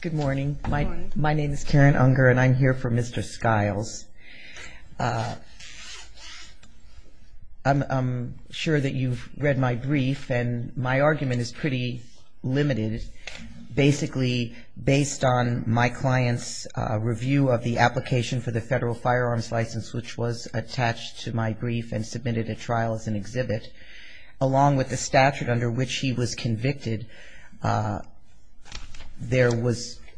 Good morning my name is Karen Unger and I'm here for Mr. Skiles. I'm sure that you've read my brief and my argument is pretty limited. Basically based on my client's review of the application for the federal firearms license which was attached to my brief and submitted a trial as an exhibit along with the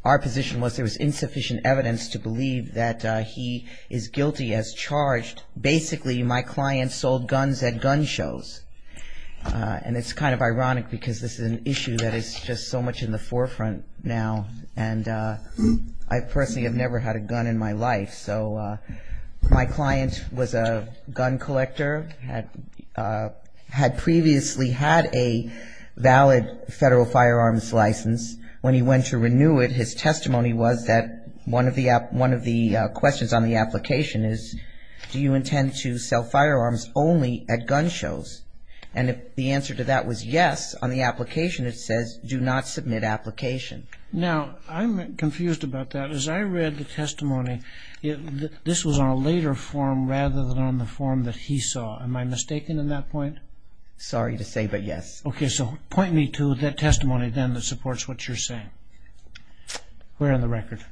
our position was there was insufficient evidence to believe that he is guilty as charged. Basically my client sold guns at gun shows. And it's kind of ironic because this is an issue that is just so much in the forefront now. And I personally have never had a gun in my life. So my client was a gun collector had previously had a valid federal firearms license. When he went to renew it his testimony was that one of the questions on the application is do you intend to sell firearms only at gun shows? And if the answer to that was yes on the application it says do not submit application. Now I'm confused about that. As I read the testimony this was on a later form rather than on the application. So am I mistaken in that point? Sorry to say but yes. Okay so point me to that testimony then that supports what you're saying. Where on the record?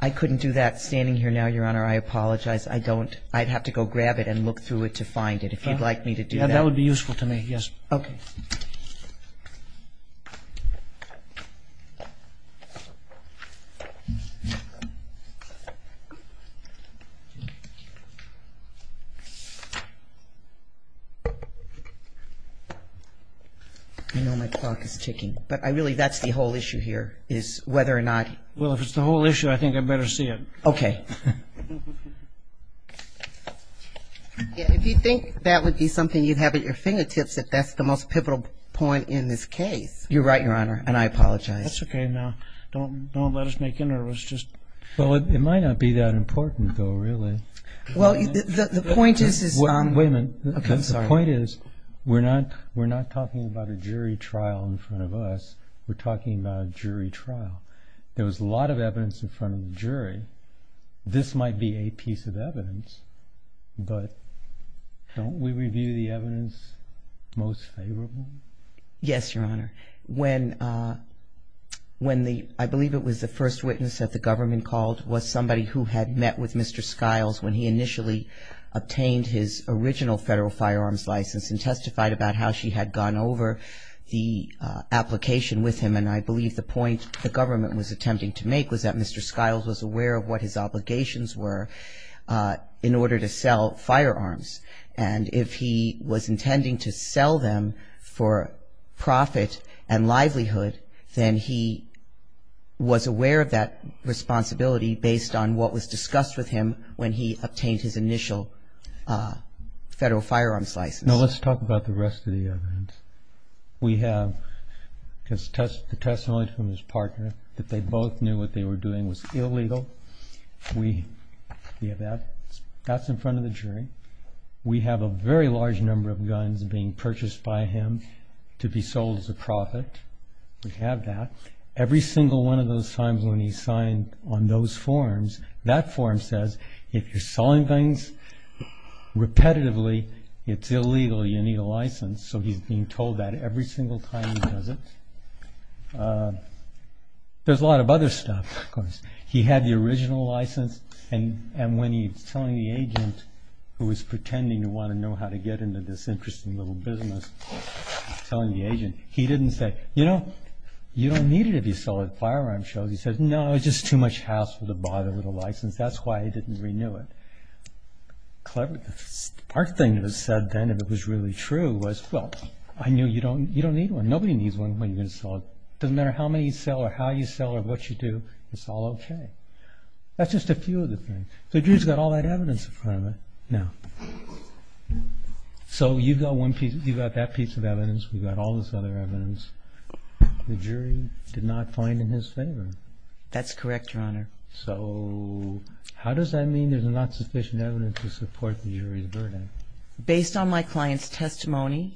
I couldn't do that standing here now your honor. I apologize. I don't I'd have to go grab it and look through it to find it if you'd like me to do that. That would be useful to me. Yes. Okay. I know my clock is ticking but I really that's the whole issue here is whether or not. Well if it's the whole issue I think I better see it. Okay. If you think that would be something you'd have at your fingertips if that's the most pivotal point in this case. You're right your honor and I apologize. That's okay now don't let us make you nervous. Well it might not be that important though really. Well the point is Wait a minute. The point is we're not talking about a jury trial in front of us. We're talking about a jury trial. There was a lot of evidence in front of the jury. This might be a piece of evidence but don't we review the evidence most favorable? Yes your honor. When the I believe it was the first witness that the government called was somebody who had met with Mr. Skiles when he initially obtained his original federal firearms license and testified about how she had gone over the application with him and I believe the point the government was attempting to make was that Mr. Skiles was aware of what his obligations were in order to sell firearms and if he was intending to sell them for profit and livelihood then he was aware of that responsibility based on what was discussed with him when he obtained his initial federal firearms license. Now let's talk about the rest of the evidence. We have the testimony from his partner that they both knew what they were doing was illegal. We have that. That's in front of the jury. We have a very large number of guns being purchased by him to be sold as a profit. We have that. Every single one of those times when he signed on those forms, that form says if you're selling things repetitively it's illegal, you need a license. So he's being told that every single time he does it. There's a lot of other stuff. He had the original license and when he was telling the agent who was pretending to want to know how to get into this interesting little business, he didn't say you know you don't need it if you're selling firearms shows. He said no it's just too much hassle to bother with a license. That's why he didn't renew it. Clever. The smart thing to have said then if it was really true was well I knew you don't need one. Nobody needs one when you're going to sell it. It doesn't matter how many you sell or how you sell or what you do. It's all okay. That's just a few of the things. The jury's got all that evidence in front of it now. So you've got that piece of evidence. We've got all this other evidence. The jury did not find in his favor. That's correct, Your Honor. So how does that mean there's not sufficient evidence to support the jury's verdict? They didn't believe him.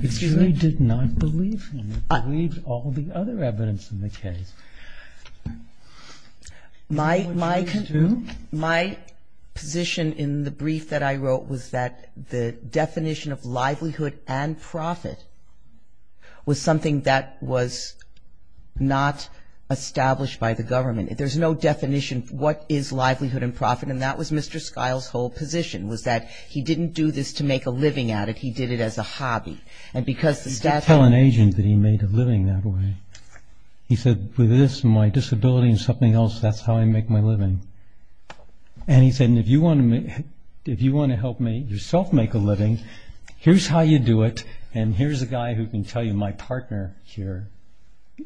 The jury did not believe him. They believed all the other evidence in the case. My position in the brief that I wrote was that the definition of livelihood and profit was something that was not established by the government. There's no definition of what is livelihood and profit and that was Mr. Skiles' whole position was that he didn't do this to make a living at it. He did it as a hobby. He didn't tell an agent that he made a living that way. He said with this and my disability and something else, that's how I make my living. And he said if you want to help me yourself make a living, here's how you do it and here's a guy who can tell you my partner here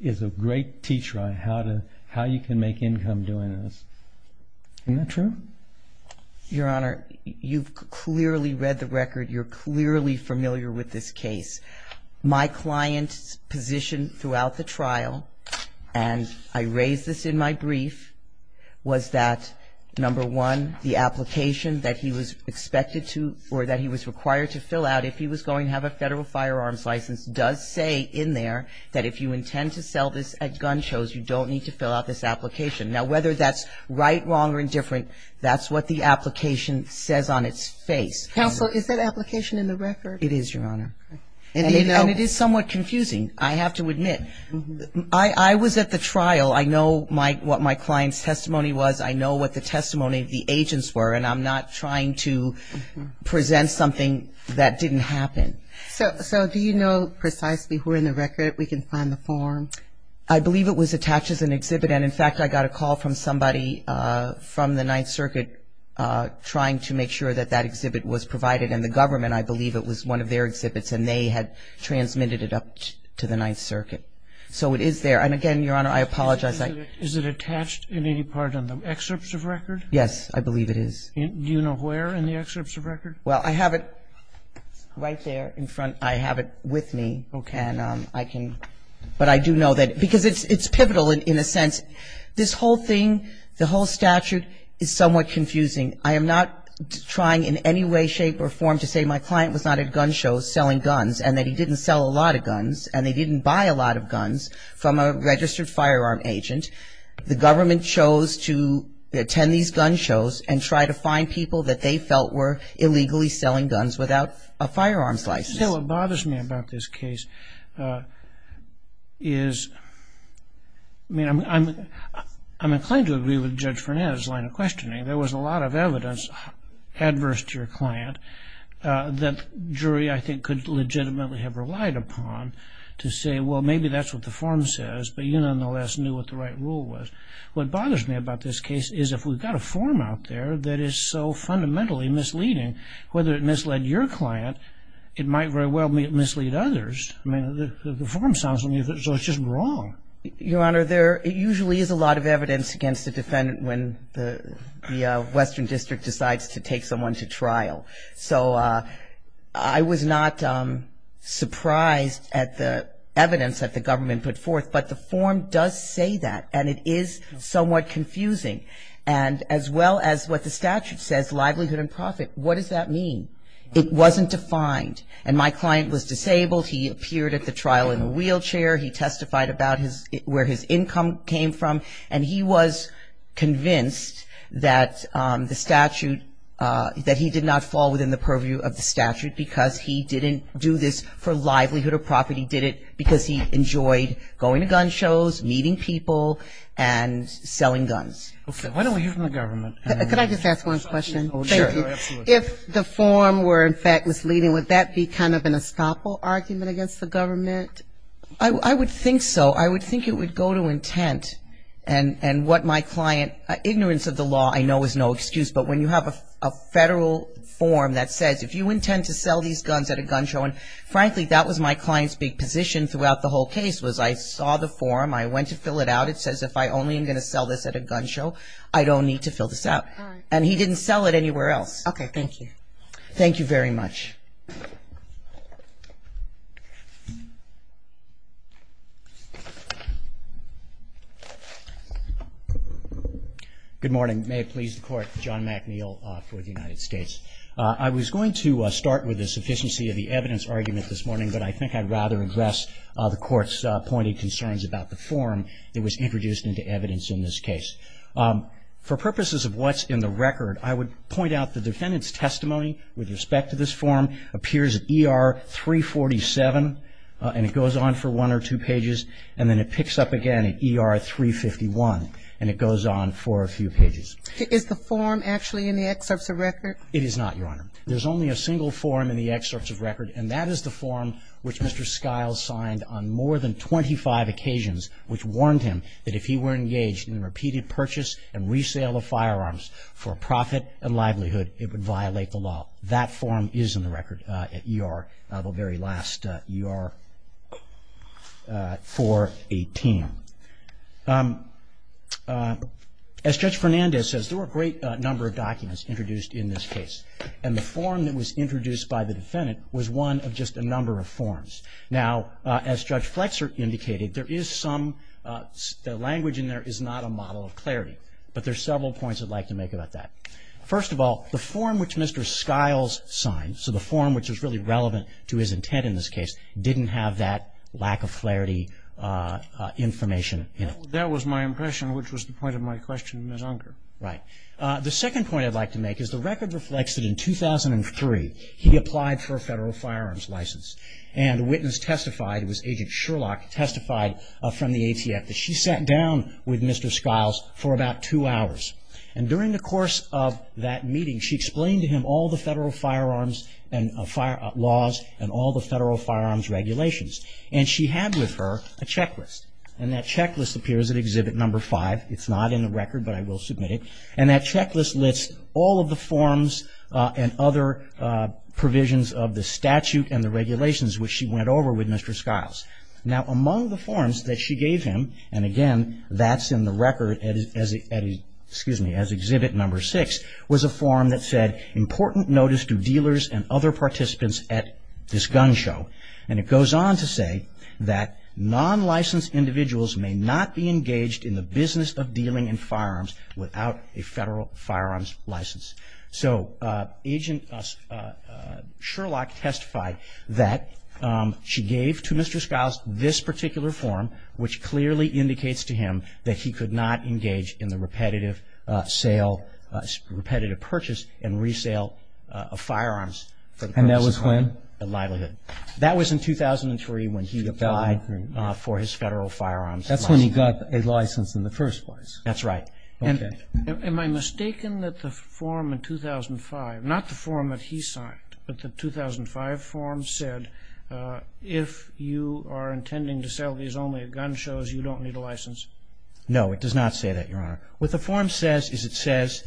is a great teacher on how you can make income doing this. Isn't that true? Your Honor, you've clearly read the record. You're clearly familiar with this case. My client's position throughout the trial, and I raised this in my brief, was that number one, the application that he was expected to or that he was required to fill out if he was going to have a federal firearms license does say in there that if you intend to sell this at gun shows, you don't need to fill out this application. Now whether that's right, wrong or indifferent, that's what the application says on its face. Counsel, is that application in the record? It is, Your Honor. And it is somewhat confusing, I have to admit. I was at the trial. I know what my client's testimony was. I know what the testimony of the agents were and I'm not trying to present something that didn't happen. So do you know precisely who in the record we can find the form? I believe it was attached as an exhibit. And in fact, I got a call from somebody from the Ninth Circuit trying to make sure that that exhibit was provided. And the government, I believe it was one of their exhibits and they had transmitted it up to the Ninth Circuit. So it is there. And again, Your Honor, I apologize. Is it attached in any part of the excerpts of record? Yes, I believe it is. Do you know where in the excerpts of record? Well, I have it right there in front. I have it with me. Okay. And I can, but I do know that because it's pivotal in a sense. This whole thing, the whole statute is somewhat confusing. I am not trying in any way, shape or form to say my client was not at gun shows selling guns and that he didn't sell a lot of guns and they didn't buy a lot of guns from a registered firearm agent. The government chose to attend these gun shows and try to find people that they felt were illegally selling guns without a firearms license. Let me say what bothers me about this case is, I mean, I'm inclined to agree with Judge Fernandez' line of questioning. There was a lot of evidence adverse to your client that jury, I think, could legitimately have relied upon to say, well, maybe that's what the form says, but you nonetheless knew what the right rule was. What bothers me about this case is if we've got a form out there that is so fundamentally misleading, whether it misled your client, it might very well mislead others. I mean, the form sounds to me as though it's just wrong. Your Honor, there usually is a lot of evidence against the defendant when the western district decides to take someone to trial. So I was not surprised at the evidence that the government put forth, but the form does say that, and it is somewhat confusing. And as well as what the statute says, livelihood and profit, what does that mean? It wasn't defined. And my client was disabled. He appeared at the trial in a wheelchair. He testified about where his income came from, and he was convinced that the statute, that he did not fall within the purview of the statute because he didn't do this for livelihood or profit. He did it because he enjoyed going to gun shows, meeting people, and selling guns. Okay. Why don't we hear from the government? Could I just ask one question? Sure. If the form were, in fact, misleading, would that be kind of an estoppel argument against the government? I would think so. I would think it would go to intent. And what my client, ignorance of the law I know is no excuse, but when you have a federal form that says if you intend to sell these guns at a gun show, and frankly, that was my client's big position throughout the whole case was I saw the form, I went to fill it out. It says if I only am going to sell this at a gun show, I don't need to fill this out. All right. And he didn't sell it anywhere else. Okay. Thank you. Thank you very much. Good morning. May it please the Court. John McNeil for the United States. I was going to start with the sufficiency of the evidence argument this morning, but I think I'd rather address the Court's pointed concerns about the form. It was introduced into evidence in this case. For purposes of what's in the record, I would point out the defendant's testimony with respect to this form appears at ER 347, and it goes on for one or two pages. And then it picks up again at ER 351, and it goes on for a few pages. Is the form actually in the excerpts of record? It is not, Your Honor. There's only a single form in the excerpts of record, and that is the form which Mr. Skiles signed on more than 25 occasions, which warned him that if he were engaged in repeated purchase and resale of firearms for profit and livelihood, it would violate the law. That form is in the record at ER, the very last, ER 418. As Judge Fernandez says, there were a great number of documents introduced in this case, and the form that was introduced by the defendant was one of just a number of forms. Now, as Judge Flexer indicated, there is some language in there is not a model of clarity, but there are several points I'd like to make about that. First of all, the form which Mr. Skiles signed, so the form which was really relevant to his intent in this case, didn't have that lack of clarity information in it. That was my impression, which was the point of my question, Ms. Unker. Right. The second point I'd like to make is the record reflects that in 2003 he applied for a federal firearms license, and a witness testified, it was Agent Sherlock, testified from the ATF that she sat down with Mr. Skiles for about two hours, and during the course of that meeting, she explained to him all the federal firearms laws and all the federal firearms regulations, and she had with her a checklist, and that checklist appears at Exhibit No. 5. It's not in the record, but I will submit it, and that checklist lists all of the forms and other provisions of the statute and the regulations which she went over with Mr. Skiles. Now, among the forms that she gave him, and again, that's in the record as Exhibit No. 6, was a form that said, important notice to dealers and other participants at this gun show, and it goes on to say that non-licensed individuals may not be engaged in the business of dealing in firearms without a federal firearms license. So Agent Sherlock testified that she gave to Mr. Skiles this particular form, which clearly indicates to him that he could not engage in the repetitive sale, repetitive purchase and resale of firearms. And that was when? At Livelihood. That was in 2003 when he applied for his federal firearms license. That's when he got a license in the first place. That's right. Okay. Am I mistaken that the form in 2005, not the form that he signed, but the 2005 form said, if you are intending to sell these only at gun shows, you don't need a license? No, it does not say that, Your Honor. What the form says is it says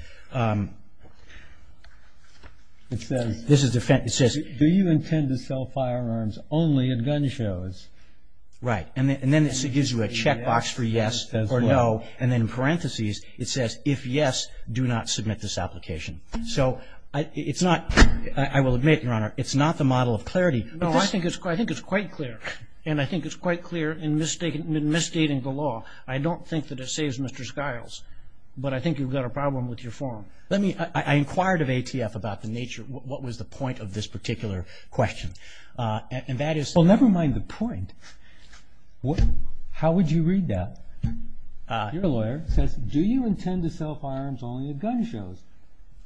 do you intend to sell firearms only at gun shows? Right. And then it gives you a checkbox for yes or no, and then in parentheses it says if yes, do not submit this application. So it's not, I will admit, Your Honor, it's not the model of clarity. No, I think it's quite clear. And I think it's quite clear in misstating the law. I don't think that it saves Mr. Skiles, but I think you've got a problem with your form. Let me, I inquired of ATF about the nature, what was the point of this particular question. And that is. Well, never mind the point. How would you read that? Your lawyer says do you intend to sell firearms only at gun shows?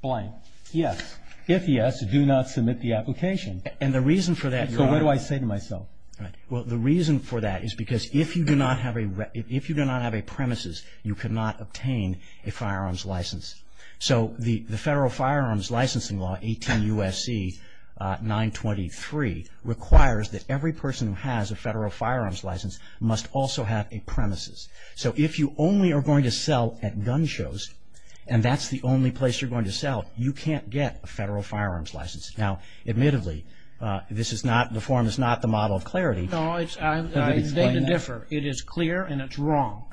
Blank. Yes. If yes, do not submit the application. And the reason for that, Your Honor. So what do I say to myself? Right. Well, the reason for that is because if you do not have a premises, you cannot obtain a firearms license. So the Federal Firearms Licensing Law, 18 U.S.C. 923, requires that every person who has a Federal Firearms License must also have a premises. So if you only are going to sell at gun shows, and that's the only place you're going to sell, you can't get a Federal Firearms License. Now, admittedly, this is not, the form is not the model of clarity. No, I'm going to differ. It is clear and it's wrong.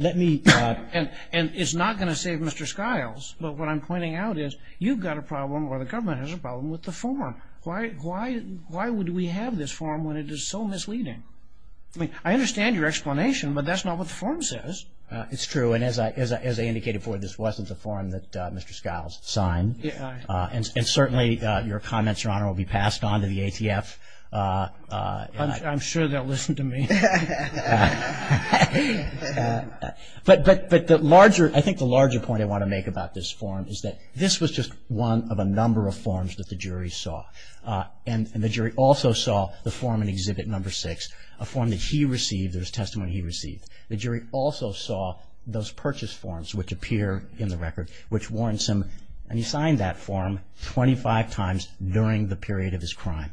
Let me. And it's not going to save Mr. Skiles. But what I'm pointing out is you've got a problem or the government has a problem with the form. Why would we have this form when it is so misleading? I mean, I understand your explanation, but that's not what the form says. It's true. And as I indicated before, this wasn't the form that Mr. Skiles signed. And certainly your comments, Your Honor, will be passed on to the ATF. I'm sure they'll listen to me. But the larger, I think the larger point I want to make about this form is that this was just one of a number of forms that the jury saw. And the jury also saw the form in Exhibit No. 6, a form that he received, there was testimony he received. The jury also saw those purchase forms which appear in the record which warns him, and he signed that form 25 times during the period of his crime,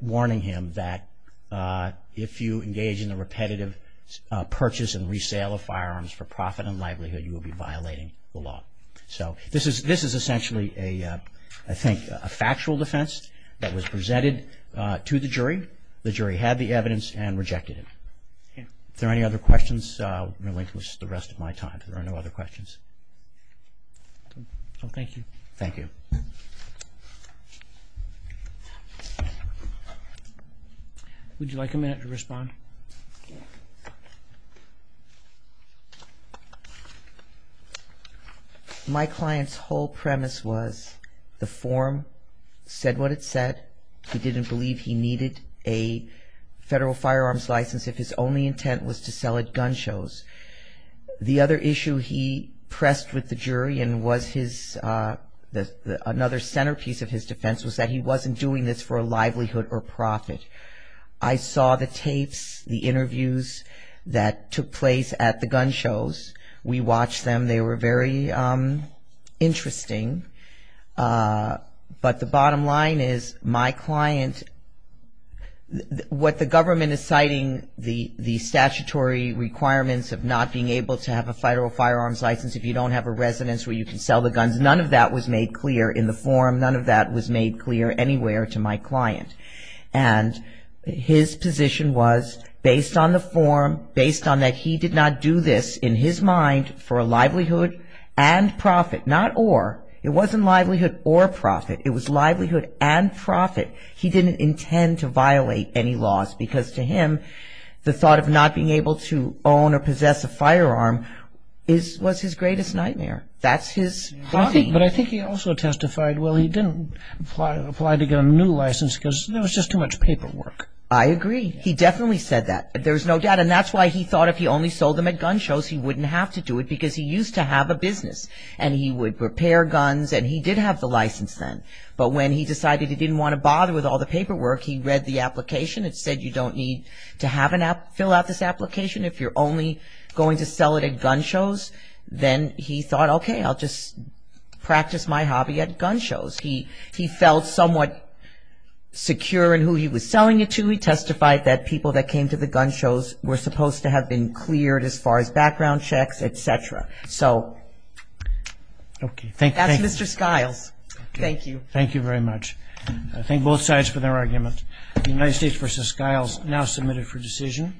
warning him that if you engage in the repetitive purchase and resale of firearms for profit and livelihood, you will be violating the law. So this is essentially, I think, a factual defense that was presented to the jury. The jury had the evidence and rejected it. Are there any other questions? I'm going to relinquish the rest of my time if there are no other questions. Thank you. Thank you. Would you like a minute to respond? My client's whole premise was the form said what it said. He didn't believe he needed a federal firearms license if his only intent was to sell at gun shows. The other issue he pressed with the jury and was his, another centerpiece of his defense was that he wasn't doing this for a livelihood or profit. I saw the tapes, the interviews that took place at the gun shows. We watched them. They were very interesting. But the bottom line is my client, what the government is citing, the statutory requirements of not being able to have a federal firearms license if you don't have a residence where you can sell the guns, none of that was made clear in the form. None of that was made clear anywhere to my client. And his position was, based on the form, based on that he did not do this in his mind for a livelihood and profit, not or. It wasn't livelihood or profit. It was livelihood and profit. He didn't intend to violate any laws because to him the thought of not being able to own or possess a firearm was his greatest nightmare. That's his. But I think he also testified, well, he didn't apply to get a new license because there was just too much paperwork. I agree. He definitely said that. There's no doubt. And that's why he thought if he only sold them at gun shows, he wouldn't have to do it because he used to have a business. And he would prepare guns, and he did have the license then. But when he decided he didn't want to bother with all the paperwork, he read the application. It said you don't need to fill out this application if you're only going to sell it at gun shows. Then he thought, okay, I'll just practice my hobby at gun shows. He felt somewhat secure in who he was selling it to. He testified that people that came to the gun shows were supposed to have been cleared as far as background checks, et cetera. So that's Mr. Skiles. Thank you. Thank you very much. I thank both sides for their argument. The United States v. Skiles now submitted for decision.